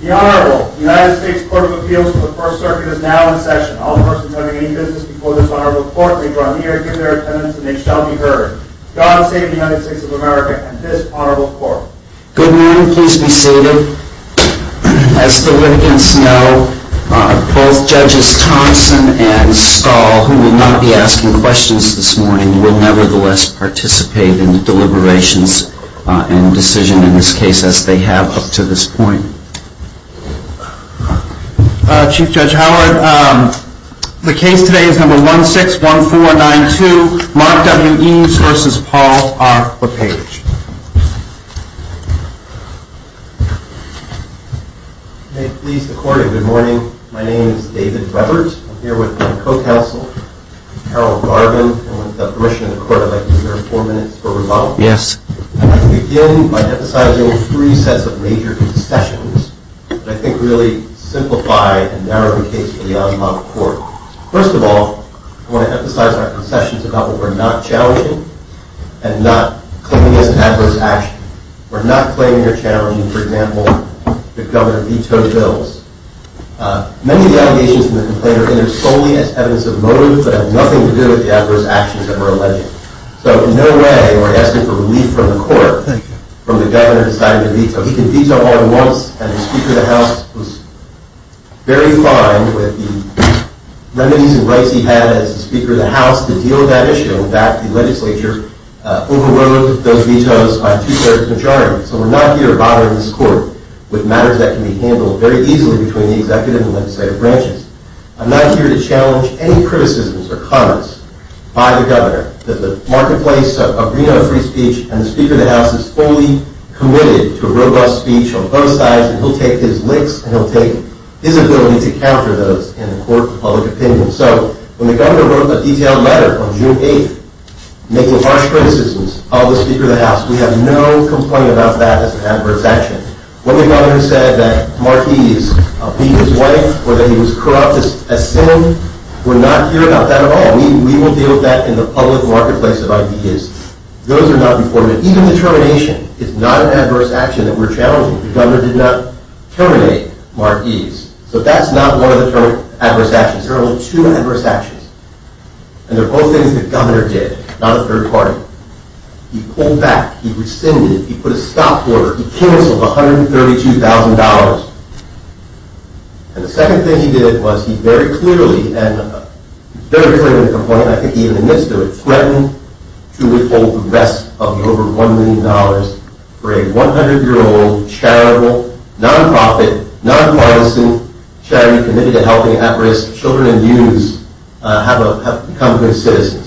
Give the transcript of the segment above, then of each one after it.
The Honorable United States Court of Appeals to the First Circuit is now in session. All persons having any business before this honorable court may draw near, give their attendance, and they shall be heard. God save the United States of America and this honorable court. Good morning. Please be seated. As the litigants know, both Judges Thompson and Stahl, who will not be asking questions this morning, will nevertheless participate in the deliberations and decision in this case as they have up to this point. Chief Judge Howard, the case today is number 161492, Mark W. Eves v. Paul R. LePage. May it please the court a good morning. My name is David Webber. I'm here with my co-counsel, Harold Garvin. And with the permission of the court, I'd like to give you four minutes for rebuttal. Yes. I'd like to begin by emphasizing three sets of major concessions that I think really simplify and narrow the case for the Honorable Court. First of all, I want to emphasize our concessions about what we're not challenging and not claiming is an adverse action. We're not claiming or challenging, for example, the governor vetoed bills. Many of the allegations in the complaint are in there solely as evidence of motive but have nothing to do with the adverse actions that were alleged. So in no way are we asking for relief from the court from the governor deciding to veto. He can veto all at once. And the Speaker of the House was very fine with the remedies and rights he had as the Speaker of the House to deal with that issue. In fact, the legislature overrode those vetoes by a two-thirds majority. So we're not here bothering this court with matters that can be handled very easily between the executive and legislative branches. I'm not here to challenge any criticisms or comments by the governor that the marketplace of Reno free speech and the Speaker of the House is fully committed to robust speech on both sides, and he'll take his licks and he'll take his ability to counter those in the court of public opinion. So when the governor wrote a detailed letter on June 8th making harsh criticisms of the Speaker of the House, we have no complaint about that as an adverse action. When the governor said that Marquis beat his wife or that he was corrupt as sin, we're not here about that at all. We will deal with that in the public marketplace of ideas. Those are not reported. Even the termination is not an adverse action that we're challenging. The governor did not terminate Marquis. So that's not one of the adverse actions. There are only two adverse actions, and they're both things the governor did, not a third party. He pulled back. He rescinded. He put a stop order. He canceled $132,000. And the second thing he did was he very clearly, and very clearly to the point I think he even admits to it, threatened to withhold the rest of the over $1 million for a 100-year-old charitable, nonprofit, nonpartisan charity committed to helping at-risk children and youths become good citizens.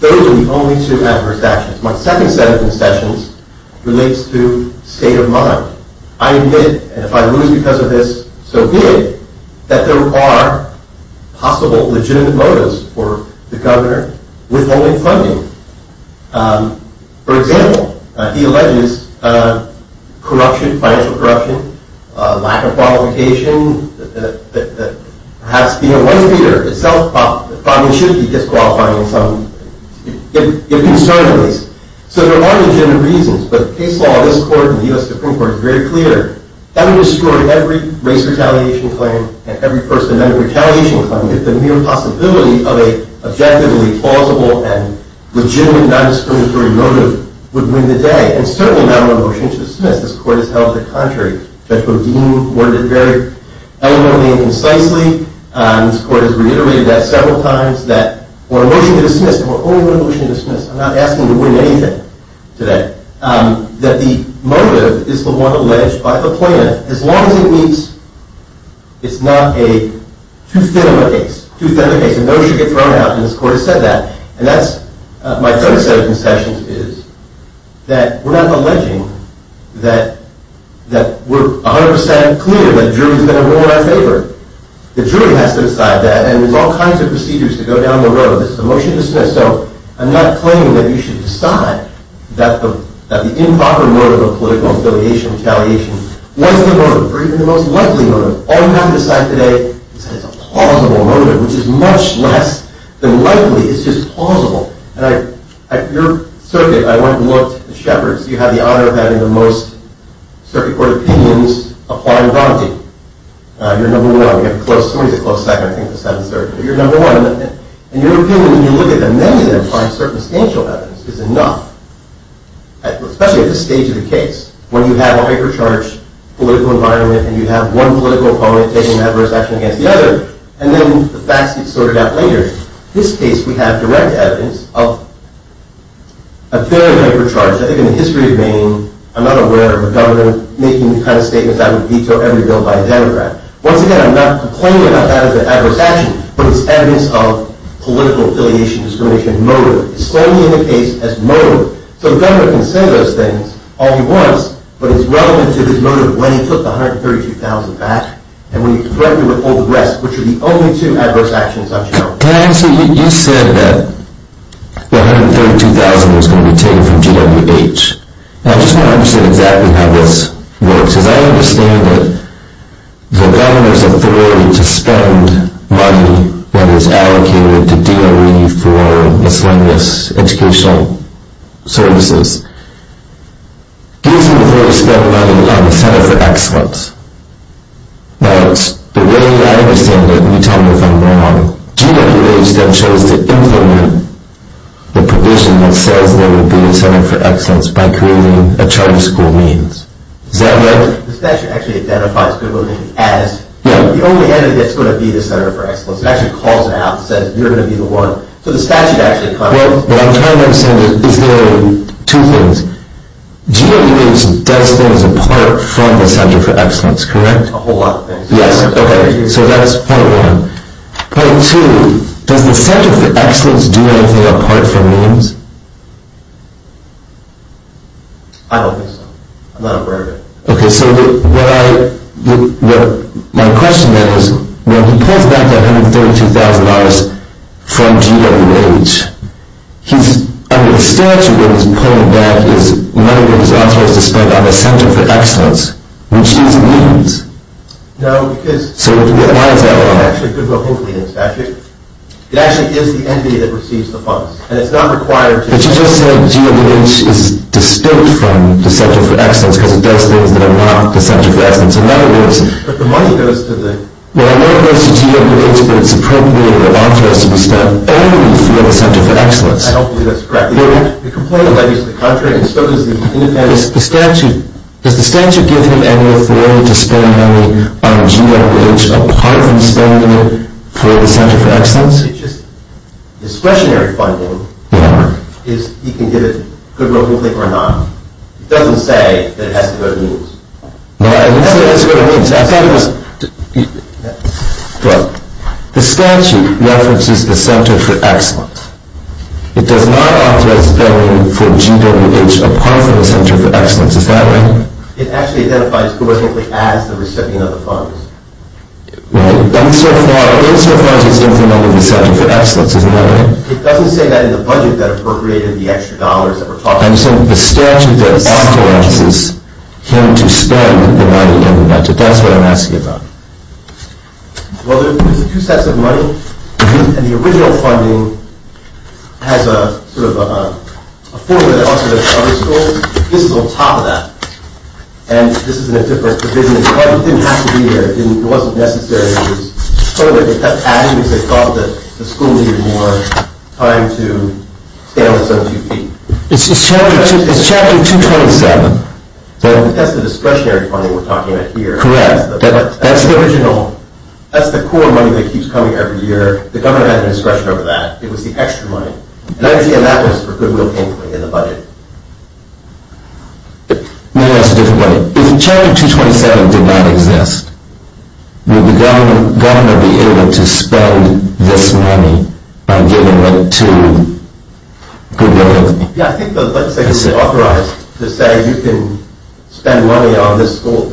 Those are the only two adverse actions. My second set of concessions relates to state of mind. I admit, and if I lose because of this, so be it, that there are possible legitimate motives for the governor withholding funding. For example, he alleges corruption, financial corruption, lack of qualification, that perhaps being a one-feeder itself probably should be disqualifying some, if concerned at least. So there are legitimate reasons. But the case law of this court and the U.S. Supreme Court is very clear. That would destroy every race retaliation claim and every First Amendment retaliation claim if the mere possibility of an objectively plausible and legitimate nondiscriminatory motive would win the day. And certainly not a motion to dismiss. This court has held it contrary. Judge Bodine worded it very eloquently and concisely. This court has reiterated that several times, that for a motion to dismiss, and we're only going to motion to dismiss, I'm not asking to win anything today, that the motive is the one alleged by the plaintiff, as long as it means it's not too thin of a case. Too thin of a case. And no one should get thrown out, and this court has said that. And that's my third set of concessions is that we're not alleging that we're 100% clear that the jury's going to rule in our favor. The jury has to decide that, and there's all kinds of procedures to go down the road. This is a motion to dismiss. So I'm not claiming that you should decide that the improper motive of political affiliation retaliation was the motive, or even the most likely motive. All you have to decide today is that it's a plausible motive, which is much less than likely. It's just plausible. And at your circuit, I went and looked at Shepard's. You had the honor of having the most circuit court opinions apply in Bronte. You're number one. We have a close, somebody's a close second, I think, to 7-3rd. But you're number one. And your opinion, when you look at them, many of them find circumstantial evidence is enough, especially at this stage of the case, when you have a hyper-charged political environment and you have one political opponent taking an adverse action against the other. And then the facts get sorted out later. In this case, we have direct evidence of a very hyper-charged. I think in the history of Maine, I'm not aware of a government making the kind of statements that would veto every bill by a Democrat. Once again, I'm not complaining about that as an adverse action, but it's evidence of political affiliation discrimination motive. It's solely in the case as motive. So the governor can say those things all he wants, but it's relevant to this motive when he took the $132,000 back and when he threatened to withhold the rest, which are the only two adverse actions on Shepard. Can I answer? You said that the $132,000 was going to be taken from GWH. Now, I just want to understand exactly how this works, because I understand that the governor's authority to spend money that is allocated to DOE for miscellaneous educational services gives him the authority to spend money on the Center for Excellence. Now, it's the way that I understand it, and you tell me if I'm wrong, GWH then chose to implement the provision that says there would be a Center for Excellence by creating a charter school means. Is that right? The statute actually identifies Goodwill Navy as the only entity that's going to be the Center for Excellence. It actually calls it out and says you're going to be the one. So the statute actually comes up. Well, what I'm trying to understand is there are two things. GWH does things apart from the Center for Excellence, correct? A whole lot of things. Yes, okay, so that's point one. Point two, does the Center for Excellence do anything apart from means? I don't think so. I'm not aware of it. Okay, so my question then is when he pulls back that $132,000 from GWH, under the statute what he's pulling back is money that his authority spent on the Center for Excellence, which is means. So why is that wrong? It actually is the entity that receives the funds. But you just said GWH is distinct from the Center for Excellence because it does things that are not the Center for Excellence. In other words, well, I know it goes to GWH, but it's appropriate that the author has to be spent only for the Center for Excellence. I don't believe that's correct. The complaint is that he's the country and so is the independent. The statute, does the statute give him any authority to spend money on GWH apart from spending it for the Center for Excellence? It's just discretionary funding. Yeah. He can give it to Goodwill or not. It doesn't say that it has to go to means. No, it has to go to means. I thought it was, well, the statute references the Center for Excellence. It does not authorize spending for GWH apart from the Center for Excellence. Is that right? It actually identifies it as the recipient of the funds. Right. Insofar as it's different from the Center for Excellence. Isn't that right? It doesn't say that in the budget that appropriated the extra dollars that we're talking about. I'm saying the statute authorizes him to spend the money in the budget. That's what I'm asking about. Well, there's two sets of money, and the original funding has a formula that also goes to other schools. This is on top of that. And this is in a different provision. It didn't have to be there. It wasn't necessary. It was added because they thought that the school needed more time to scale this on two feet. It's Chapter 227. That's the discretionary funding we're talking about here. Correct. That's the original. That's the core money that keeps coming every year. The governor has discretion over that. It was the extra money. And that was for GWH in the budget. Maybe that's a different way. If Chapter 227 did not exist, would the governor be able to spend this money on giving it to GWH? Yeah, I think the legislature authorized to say you can spend money on this school.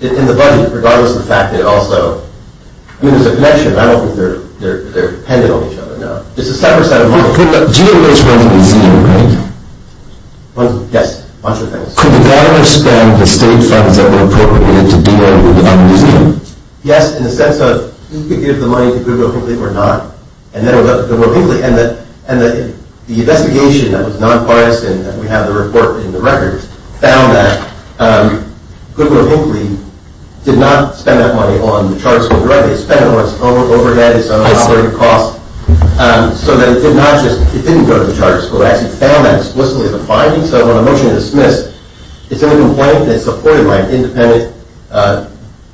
In the budget, regardless of the fact that it also – I mean, there's a connection. I don't think they're dependent on each other. No. It's a separate set of money. GWH runs a museum, right? Yes, a bunch of things. Could the governor spend the state funds that were appropriated to build a museum? Yes, in the sense of he could give the money to Goodwill Hinckley or not. And then it would go to Goodwill Hinckley. And the investigation that was non-biased, and we have the report in the records, found that Goodwill Hinckley did not spend that money on the charter school directly. It spent it on its own overhead, its own operating costs. So that it did not just – it didn't go to the charter school. It actually found that explicitly as a finding. So when a motion is dismissed, it's in a complaint that's supported by an independent,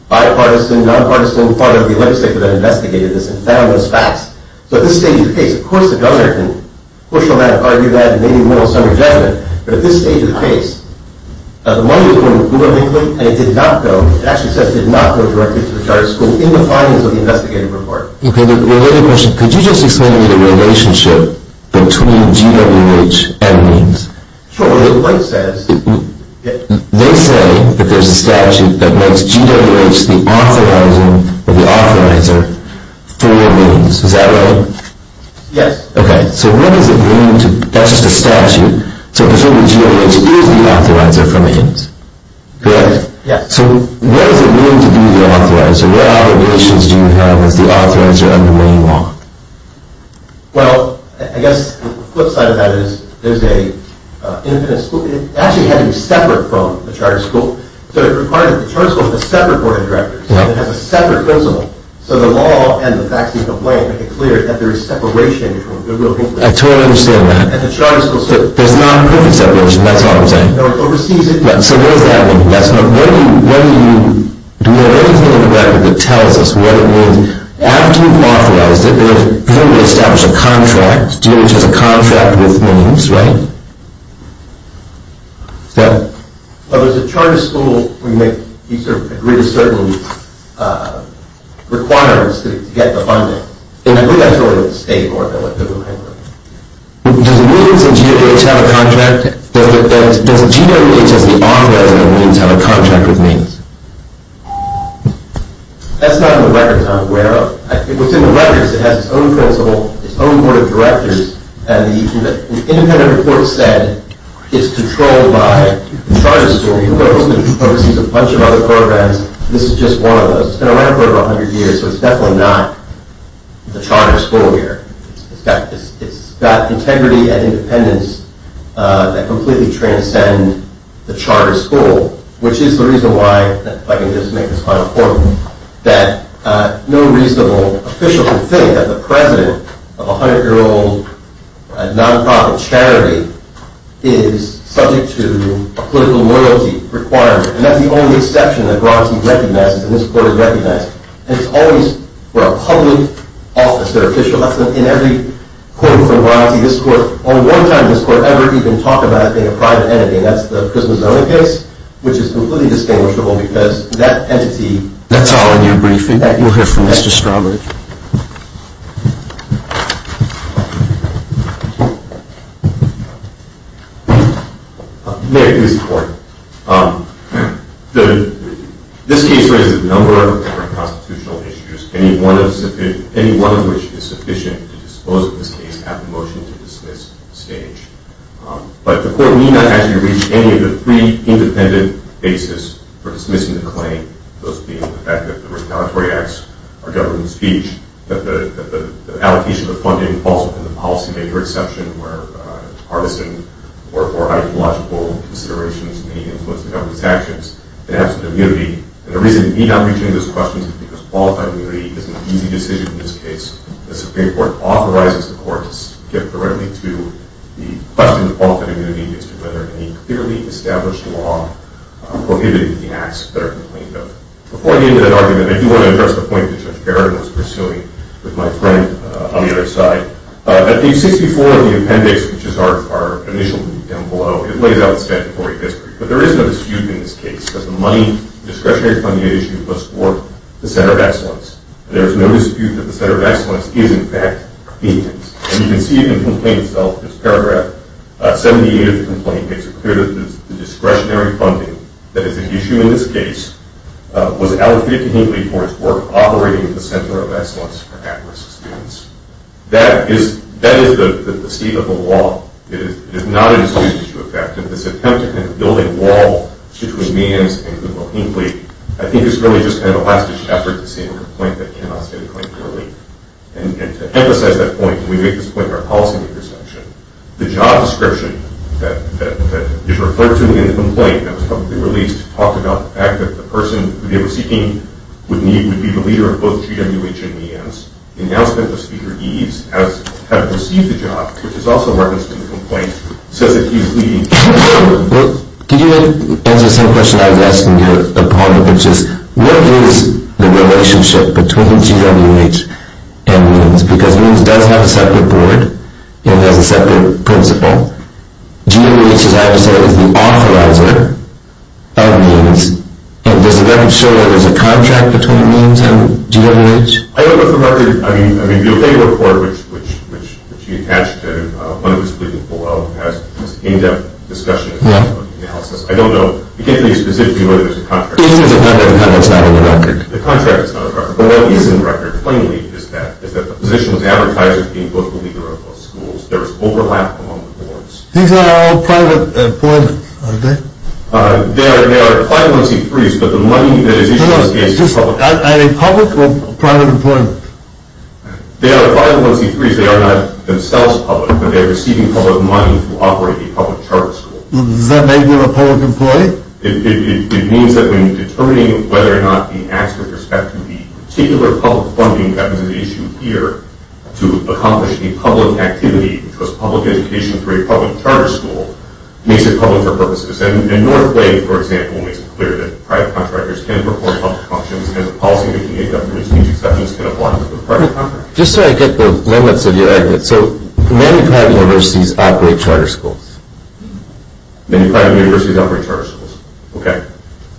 bipartisan, nonpartisan part of the legislature that investigated this and found those facts. So at this stage of the case, of course the governor can push on that, argue that, and maybe win on some of your judgment. But at this stage of the case, the money was going to Goodwill Hinckley, and it did not go – it actually says did not go directly to the charter school in the findings of the investigative report. Okay. Related question. Could you just explain to me the relationship between GWH and MEANS? Sure. Well, the White says – They say that there's a statute that makes GWH the authorizing or the authorizer for MEANS. Is that right? Yes. Okay. So what does it mean to – that's just a statute. So GWH is the authorizer for MEANS. Correct? Yes. So what does it mean to be the authorizer? What obligations do you have as the authorizer under MEANS law? Well, I guess the flip side of that is there's an independent school – it actually had to be separate from the charter school. So it required that the charter school have a separate board of directors, so it has a separate principal. So the law and the facts of the complaint make it clear that there is separation between Goodwill and Hinckley. I totally understand that. And the charter school – There's not a perfect separation. That's all I'm saying. No, it oversees it. So what does that mean? That's not – what do you – do you have anything in the record that tells us what it means? After you've authorized it, you're going to establish a contract. GWH has a contract with MEANS, right? Yeah. Well, there's a charter school where you make – you sort of agree to certain requirements to get the funding. And I believe that's really the state board that went to Goodwill-Hinckley. Does MEANS and GWH have a contract? Does GWH as the author, as in the MEANS, have a contract with MEANS? That's not in the records I'm aware of. Within the records, it has its own principal, its own board of directors, and the independent report said it's controlled by the charter school. It oversees a bunch of other programs. This is just one of those. It's been around for over 100 years, so it's definitely not the charter school here. It's got integrity and independence that completely transcend the charter school, which is the reason why – if I can just make this final point – that no reasonable official can think that the president of a 100-year-old nonprofit charity is subject to a political loyalty requirement. And that's the only exception that GWH recognizes and this court has recognized. And it's always for a public office, their official. That's in every quote-unquote loyalty. This court – only one time has this court ever even talked about it being a private entity, and that's the PrismaZona case, which is completely distinguishable because that entity – That's all in your briefing. You'll hear from Mr. Strowbridge. May I please report? This case raises a number of different constitutional issues, any one of which is sufficient to dispose of this case at the motion-to-dismiss stage. But the court may not actually reach any of the three independent bases for dismissing the claim, those being the fact that the retaliatory acts are government speech, that the allocation of funding falls within the policymaker exception where partisan or ideological considerations may influence the government's actions, and absent immunity. And the reason we're not reaching those questions is because qualified immunity is an easy decision in this case. The Supreme Court authorizes the courts to get directly to the question of qualified immunity as to whether any clearly established law prohibits the acts that are complained of. Before I get into that argument, I do want to address the point that Judge Barrett was pursuing with my friend on the other side. At page 64 of the appendix, which is our initial link down below, it lays out the statutory history. But there is no dispute in this case that the discretionary funding issue was for the Center of Excellence. And there is no dispute that the Center of Excellence is, in fact, being used. And you can see in the complaint itself, this paragraph, 78 of the complaint makes it clear that the discretionary funding that is an issue in this case was allocated completely for its work operating at the Center of Excellence for at-risk students. That is the state of the law. It is not an exclusive issue, in fact. And this attempt to kind of build a wall between Meehan's and Goodwill-Hinckley, I think is really just kind of a last-ditch effort to say in a complaint that cannot stay the claim purely. And to emphasize that point, and we make this point in our policy makers' section, the job description that is referred to in the complaint that was publicly released talked about the fact that the person who they were seeking would be the leader of both GWH and Meehan's. The announcement that Speaker Eves has received the job, which is also referenced in the complaint, says that he is leading GWH. Well, can you answer the same question I was asking you upon which is, what is the relationship between GWH and Meehan's? Because Meehan's does have a separate board and has a separate principal. GWH, as I have said, is the authorizer of Meehan's. And does the record show that there is a contract between Meehan's and GWH? I don't know if the record, I mean, the OK report, which you attached to, one of the splitting below, has an in-depth discussion about the analysis. I don't know, you can't tell me specifically whether there is a contract. The contract is not on the record. The contract is not on the record. But what is on the record, plainly, is that the position was advertised as being both the leader of both schools. There was overlap among the boards. These are all private employment, aren't they? They are client-owned C3s, but the money that is issued in this case is public. Are they public or private employment? They are client-owned C3s. They are not themselves public, but they are receiving public money to operate a public charter school. Does that make them a public employee? It means that when determining whether or not the acts with respect to the particular public funding that was issued here to accomplish a public activity, which was public education for a public charter school, makes it public for purposes. And Northway, for example, makes it clear that private contractors can perform public functions as a policy making a government exceptions can apply to the private contractor. Just so I get the limits of your argument, so many private universities operate charter schools. Many private universities operate charter schools. Okay.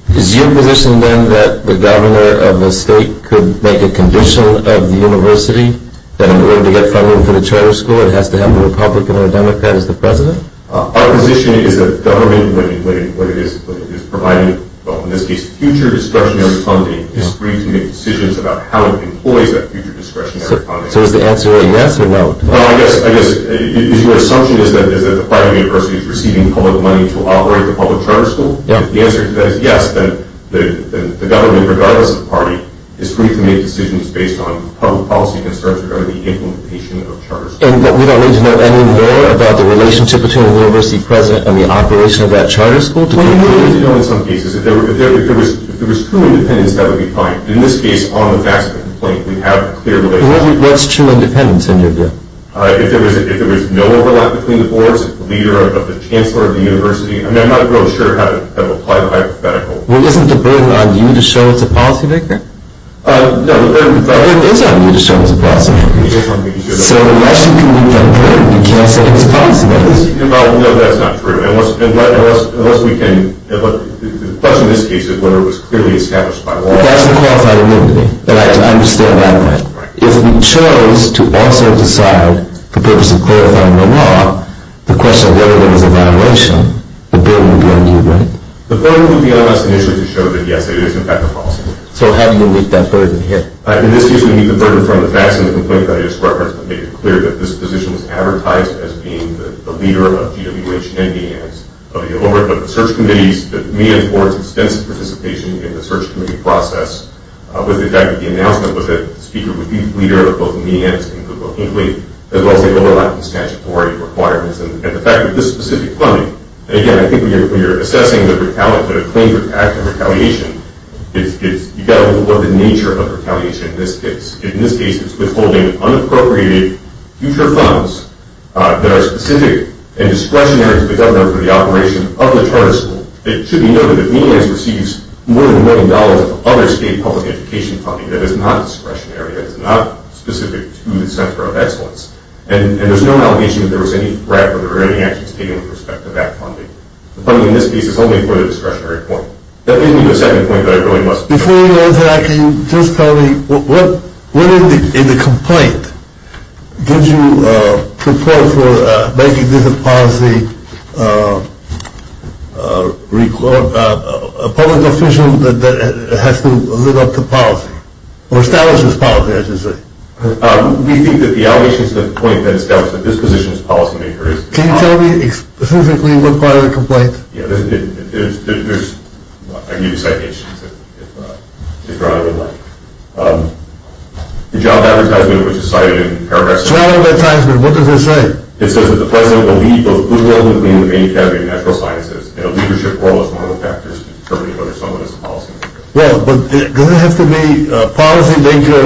Is your position, then, that the governor of a state could make a condition of the university that in order to get funding for the charter school, it has to have the Republican or Democrat as the president? Our position is that the government, when it is providing, in this case, future discretionary funding, is free to make decisions about how it employs that future discretionary funding. So is the answer a yes or no? I guess your assumption is that the private university is receiving public money to operate the public charter school. If the answer to that is yes, then the government, regardless of party, is free to make decisions based on public policy concerns regarding the implementation of charter schools. And we don't need to know any more about the relationship between the university president and the operation of that charter school to conclude? We do need to know in some cases. If there was true independence, that would be fine. In this case, on the facts of the complaint, we have a clear relationship. What's true independence in your view? If there was no overlap between the boards, the leader of the chancellor of the university. I'm not real sure how to apply the hypothetical. Well, isn't the burden on you to show it's a policymaker? No, the burden is on you to show it's a policymaker. So unless you can meet that burden, you can't say it's a policymaker? No, that's not true. Unless we can, but the question in this case is whether it was clearly established by law. That's the qualified immunity. I understand that. If we chose to also decide the purpose of clarifying the law, the question of whether it was a violation, the burden would be on you, right? The burden would be on us initially to show that yes, it is in fact a policymaker. So how do you meet that burden here? In this case, we meet the burden from the facts of the complaint that I just referenced that made it clear that this position was advertised as being the leader of GWH and Meehan's. But the search committees, the Meehan's boards' extensive participation in the search committee process with the fact that the announcement was that the speaker would be the leader of both Meehan's and Google Hinckley, as well as the overlapping statutory requirements. And the fact that this specific funding, again, I think when you're assessing the claim for active retaliation, you've got to look at the nature of retaliation in this case. In this case, it's withholding unappropriated future funds that are specific and discretionary to the governor for the operation of the charter school. It should be noted that Meehan's receives more than $1 million of other state public education funding that is not discretionary, that is not specific to the Center of Excellence. And there's no allegation that there was any threat or there were any actions taken with respect to that funding. The funding in this case is only for the discretionary point. That leads me to the second point that I really must make. Before you go into that, can you just tell me what, in the complaint, did you propose for making this a policy, a public official that has to live up to policy, or establishes policy, I should say? We think that the allegation is the point that establishes that this position is policymaker. Can you tell me specifically what part of the complaint? Yeah, there's, I can give you citations if Ron would like. The job advertisement which is cited in paragraph 7. Job advertisement, what does it say? It says that the president will lead both Google and Maine Academy of Natural Sciences in a leadership role as one of the factors in determining whether someone is a policymaker. Well, but does it have to be policymaker,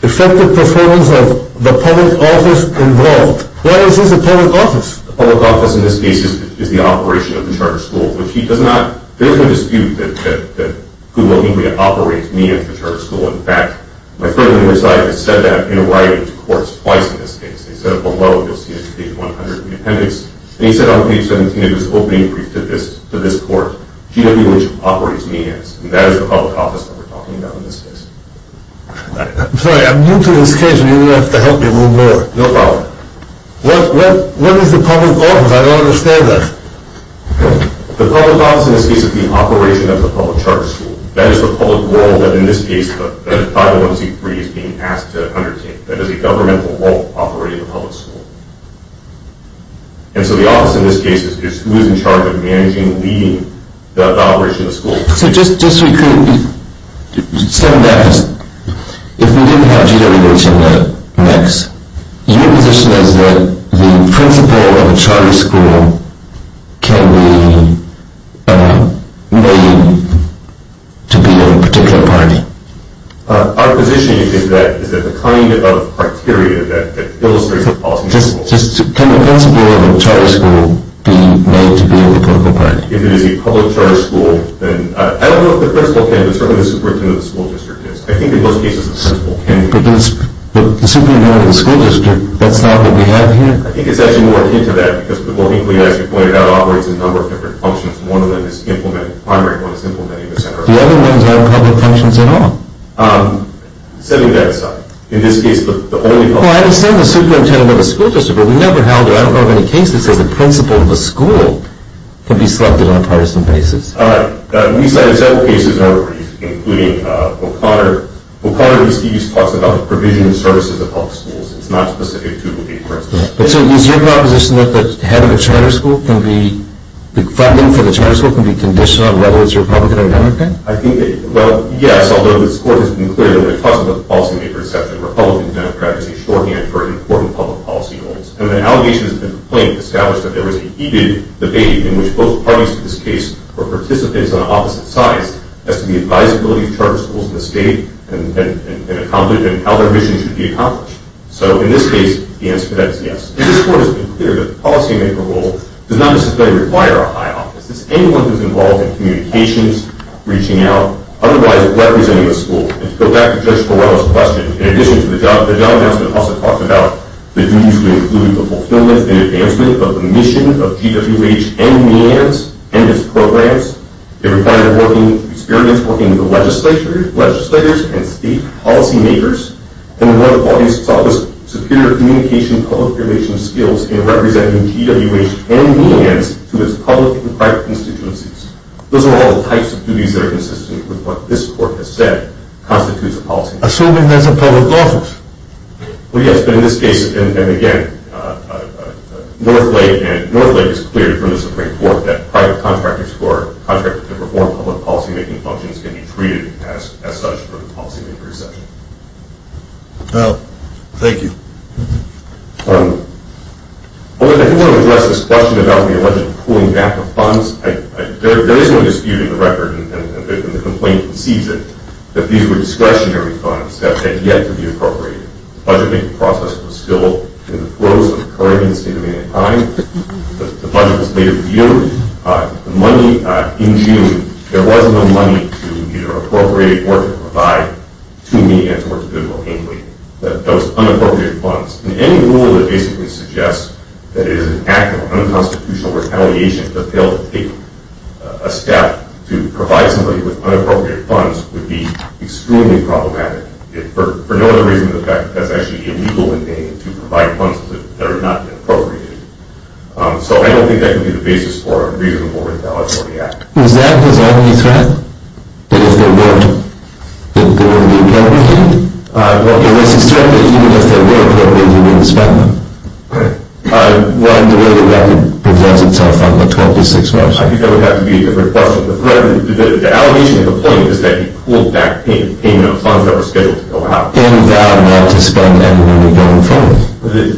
effective performance of the public office involved? Why is this a public office? The public office in this case is the operation of the charter school, which he does not, there is no dispute that Google and Maine operates Maine as the charter school. In fact, my friend on the other side has said that in writing to courts twice in this case. He said it below, you'll see it in page 100 of the appendix. And he said on page 17 of his opening brief to this court, GW operates Maine as, and that is the public office that we're talking about in this case. I'm sorry, I'm new to this case and you're going to have to help me a little more. No problem. What is the public office? I don't understand that. The public office in this case is the operation of the public charter school. That is the public role that in this case, that 510C3 is being asked to undertake. That is the governmental role operating the public school. And so the office in this case is who is in charge of managing, leading the operation of the school. So just so you can understand that, if we didn't have GWH in the mix, your position is that the principle of a charter school can be made to be a particular party? Our position is that the kind of criteria that illustrates the policy of the school. Can the principle of a charter school be made to be a political party? If it is a public charter school, then I don't know if the principle can, but certainly the superintendent of the school district is. I think in most cases the principle can be made. But the superintendent of the school district, that's not what we have here? I think it's actually more akin to that because, as you pointed out, GWH operates in a number of different functions. One of them is implementing the primary, one is implementing the secondary. The other ones aren't public functions at all? Setting that aside, in this case the only public function... Well, I understand the superintendent of the school district, but we never held it. I don't know of any cases that say the principle of a school can be selected on a partisan basis. All right. We cited several cases in our brief, including O'Connor. O'Connor in his previous talks about the provision and services of public schools. It's not specific to GWH, for instance. So is your proposition that having a charter school can be... funding for the charter school can be conditioned on whether it's Republican or Democrat? I think that, well, yes, although this Court has been clear that when it talks about the policy-maker exception, Republican and Democrat is a shorthand for important public policy goals. And when allegations have been complained, established that there was a heated debate in which both parties to this case were participants on opposite sides, as to the advisability of charter schools in the state and how their mission should be accomplished. So in this case, the answer to that is yes. And this Court has been clear that the policy-maker role does not necessarily require a high office. It's anyone who's involved in communications, reaching out, otherwise representing the school. And to go back to Judge Morello's question, in addition to the job announcement, it also talks about the duties to include the fulfillment and advancement of the mission of GWH and NEANS and its programs. It requires experience working with the legislators and state policy-makers, and one of the body's toughest superior communication and public relations skills in representing GWH and NEANS to its public and private constituencies. Those are all types of duties that are consistent with what this Court has said constitutes a policy-maker. Assuming there's a public office. Well, yes, but in this case, and again, Northlake is clear from the Supreme Court that private contractors who are contracted to perform public policy-making functions can be treated as such for the policy-maker section. Well, thank you. I do want to address this question about the alleged pooling back of funds. There is no dispute in the record, and the complaint concedes it, that these were discretionary funds that had yet to be appropriated. The budget-making process was still in the flows of the current state of the union time. The budget was later reviewed. The money in June, there wasn't the money to either appropriate or to provide to NEANS or to GWH. That was unappropriated funds. Any rule that basically suggests that it is an act of unconstitutional retaliation to fail to take a step to provide somebody with unappropriated funds would be extremely problematic. For no other reason than the fact that that's actually illegal in NEANS to provide funds that are not appropriated. So I don't think that could be the basis for a reasonable retaliatory act. Is that the only threat? That if there weren't, that there would be a penalty? Well, unless it's true that even if there were a penalty, you wouldn't spend them. Right. Well, and the way the record presents itself on the 12 to 6 measure. I think that would have to be a different question. The allegation of the point is that he pulled back payment of funds that were scheduled to go out. And vowed not to spend any money going forward.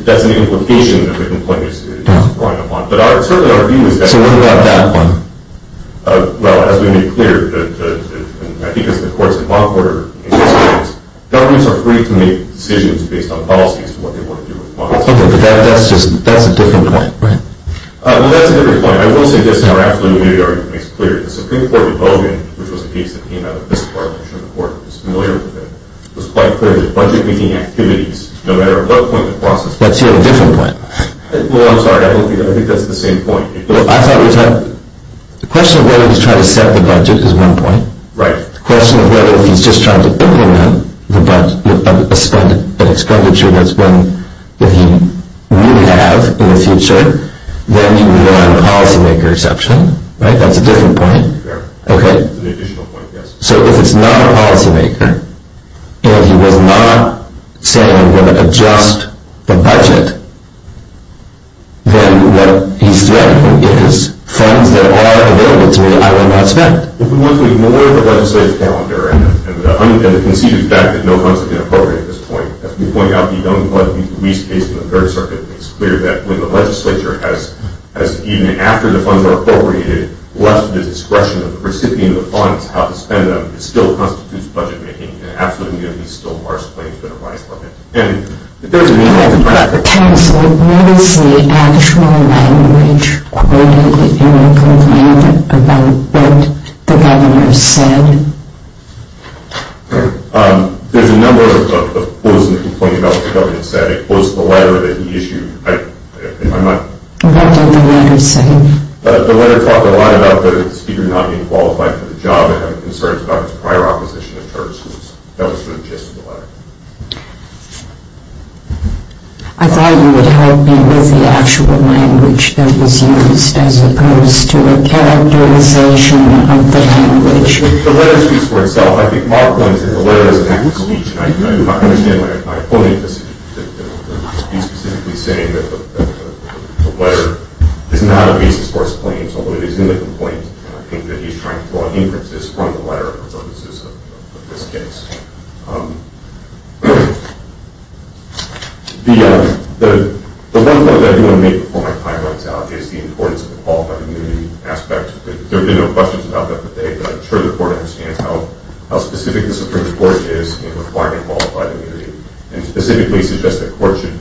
That's an implication that the complaint is drawing upon. But certainly our view is that. So what about that one? Well, as we made clear, I think it's the courts in Montgomery. Governments are free to make decisions based on policies to what they want to do with funds. Okay, but that's a different point, right? Well, that's a different point. I will say this in our absolutely new argument. It's clear that the Supreme Court in Logan, which was a case that came out of this part of the Supreme Court, was familiar with it. It was quite clear that budget-making activities, no matter at what point in the process. Let's hear a different point. Well, I'm sorry. I think that's the same point. I thought we talked. The question of whether he's trying to set the budget is one point. Right. The question of whether he's just trying to open up an expenditure that's one that he may have in the future. Then you rely on the policymaker's option, right? That's a different point. Fair. That's an additional point, yes. So if it's not a policymaker, and he was not saying I'm going to adjust the budget, then what he's threatening is funds that are available to me, I will not spend. If we want to ignore the legislative calendar and the conceded fact that no funds have been appropriated at this point, as we pointed out, we don't want to be the least case in the Third Circuit. It's clear that when the legislature has, even after the funds are appropriated, left to the discretion of the recipient of the funds how to spend them, it still constitutes budget-making, and absolutely we're going to be still harsh claims that arise from it. And there's a reason for that. Counsel, where is the actual language quoted in the complaint about what the governor said? There's a number of quotes in the complaint about what the governor said. I quote the letter that he issued. What did the letter say? The letter talked a lot about the speaker not being qualified for the job and having concerns about his prior opposition to church. That was sort of the gist of the letter. I thought you would help me with the actual language that was used as opposed to a characterization of the language. The letter speaks for itself. I think Mark claims that the letter is an act of speech, and I do not understand why I'm quoting this. He's specifically saying that the letter is not a basis for his claims, although it is in the complaint, and I think that he's trying to draw inferences from the letter for purposes of this case. The one point that I do want to make before my time runs out is the importance of the qualified immunity aspect. There have been no questions about that today, but I'm sure the Court understands how specific the Supreme Court is in requiring qualified immunity, and specifically suggests that the Court should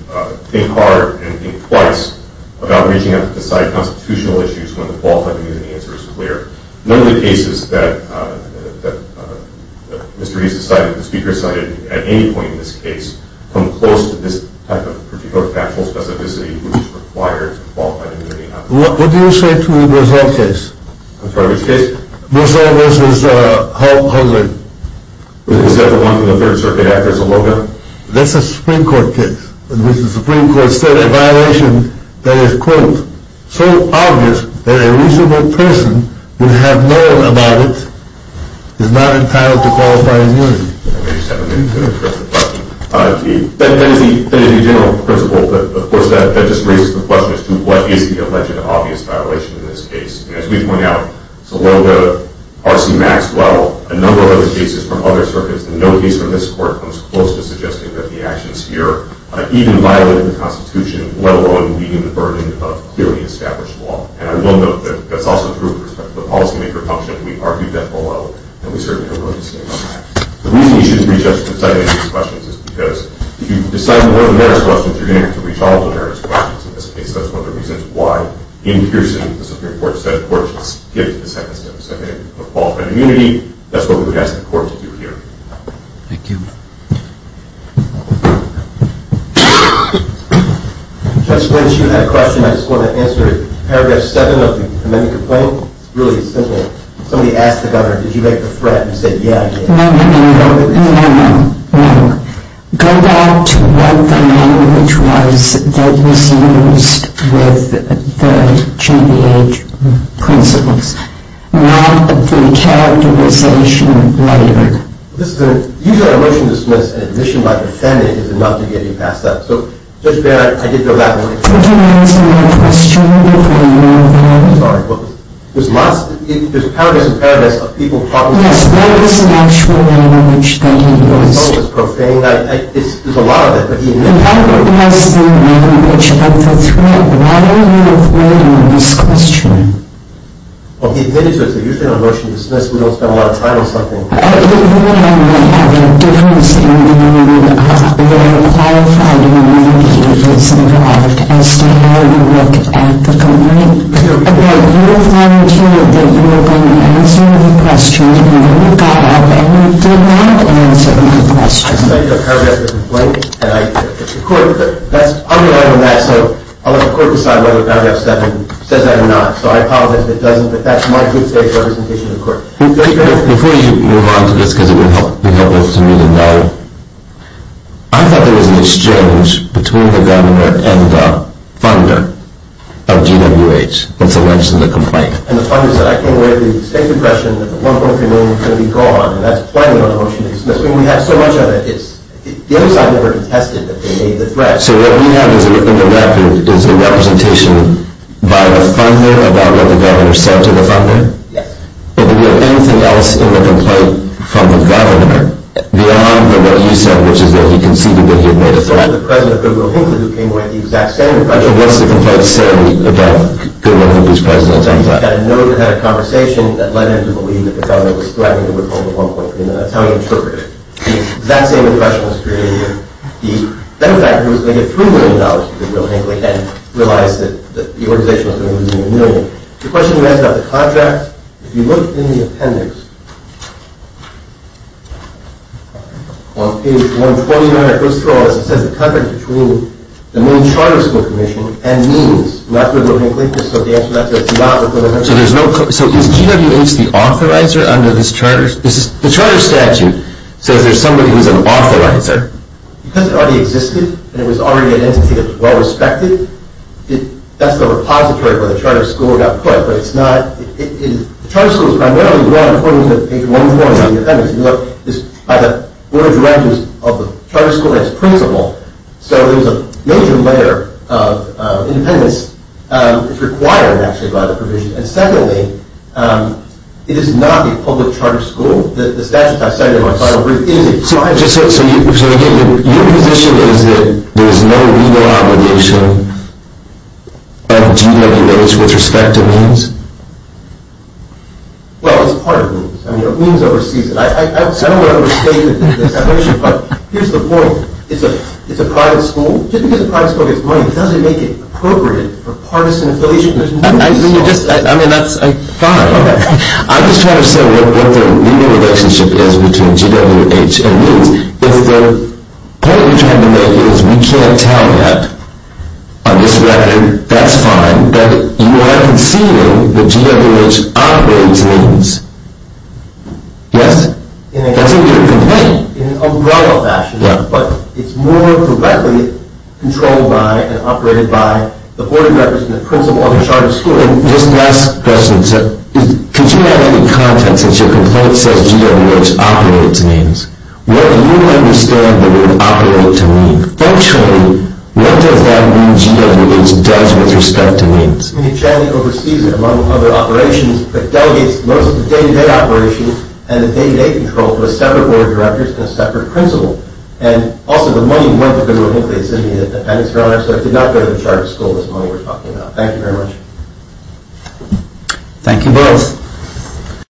think hard and think twice about reaching out to decide constitutional issues when the qualified immunity answer is clear. None of the cases that Mr. Reese decided, the speaker decided at any point in this case, come close to this type of particular factual specificity which requires qualified immunity. What do you say to the Moselle case? I'm sorry, which case? Moselle v. Howard. Is that the one from the Third Circuit after Saloga? That's a Supreme Court case, in which the Supreme Court said a violation that is, quote, so obvious that a reasonable person would have known about it is not entitled to qualified immunity. Let me just have a minute to address the question. That is the general principle, but of course that just raises the question as to what is the alleged obvious violation in this case. As we point out, Saloga, RC Maxwell, a number of other cases from other circuits, and no case from this Court comes close to suggesting that the actions here even violated the Constitution, let alone being the burden of clearly established law. And I will note that that's also true with respect to the policymaker function. We argued that below, and we certainly don't want to stay on that. The reason you shouldn't reach out to decide any of these questions is because if you decide more than one of the merits questions, you're going to have to reach all of the merits questions in this case. That's one of the reasons why, in Pearson, the Supreme Court said the Court should skip the second step, the second step would fall to an immunity. That's what we would ask the Court to do here. Thank you. Judge Lynch, you had a question. I just want to answer it. Paragraph 7 of the amendment complaint, it's really simple. Somebody asked the Governor, did you make the threat, and he said, yeah, I did. No, no, no, no, no, no, no, no. Go back to what the language was that was used with the JVH principles. Not the characterization later. Usually a motion to dismiss an admission by defendant is enough to get you passed out. So, Judge Baird, I did go back and look. Could you answer my question before you move on? I'm sorry. There's paragraphs and paragraphs of people talking. Yes, that is an actual language that he used. Some of it's profane. There's a lot of it, but he admitted it. That was the language of the threat. Why are you avoiding this question? Well, he admitted to it, so usually on a motion to dismiss we don't spend a lot of time on something. I cite the paragraph of the complaint, and it's the court that's underlying that, so I'll let the court decide whether paragraph 7 says that or not. So I apologize if it doesn't, but that's my good faith representation of the court. So what we have in the record is a representation by the funder about what the governor said to the funder? Yes. And did we have anything else in the complaint from the governor beyond what you said, which is that he conceded that he had made a threat? It was the president of Goodwill-Hinkley who came away with the exact same impression. So what's the complaint say about Goodwill-Hinkley's president at that time? He had a note, he had a conversation that led him to believe that the governor was threatening to withhold the 1.3 million. That's how he interpreted it. The exact same impression was created by the benefactor who was going to get $3 million from Goodwill-Hinkley and realized that the organization was going to be using a million. The question you asked about the contract, if you look in the appendix, on page 129, it goes through all this. It says the contract between the Maine Charter School Commission and means not Goodwill-Hinkley. So the answer to that is not Goodwill-Hinkley. So is GWH the authorizer under this charter? The charter statute says there's somebody who's an authorizer. Because it already existed and it was already an entity that was well-respected. That's the repository where the charter school got put, but it's not... The charter school is primarily run according to page 140 of the appendix. By the board of directors of the charter school and its principal. So there's a major layer of independence that's required, actually, by the provision. And secondly, it is not the public charter school. The statute I cited in my final brief is a private charter school. So again, your position is that there's no legal obligation of GWH with respect to means? Well, it's part of means. I mean, it means overseas. I don't want to overstate the definition, but here's the point. It's a private school. Just because a private school gets money doesn't make it appropriate for partisan affiliation. I mean, that's fine. I'm just trying to say what the legal relationship is between GWH and means. If the point you're trying to make is we can't tell yet on this record, that's fine, but you are conceding that GWH operates means. Yes? That's what you're complaining. In an umbrella fashion, but it's more correctly controlled by and operated by the board of directors and the principal of the charter school. And just last question, sir. Could you add any context since your complaint says GWH operates means? What do you understand the word operate to mean? Functionally, what does that mean GWH does with respect to means? I mean, it generally oversees it among other operations, but delegates most of the day-to-day operations and the day-to-day control to a separate board of directors and a separate principal. And also, the money went to a place in the independence grounds, so it did not go to the charter school with the money we're talking about. Thank you very much. Thank you both. Thank you.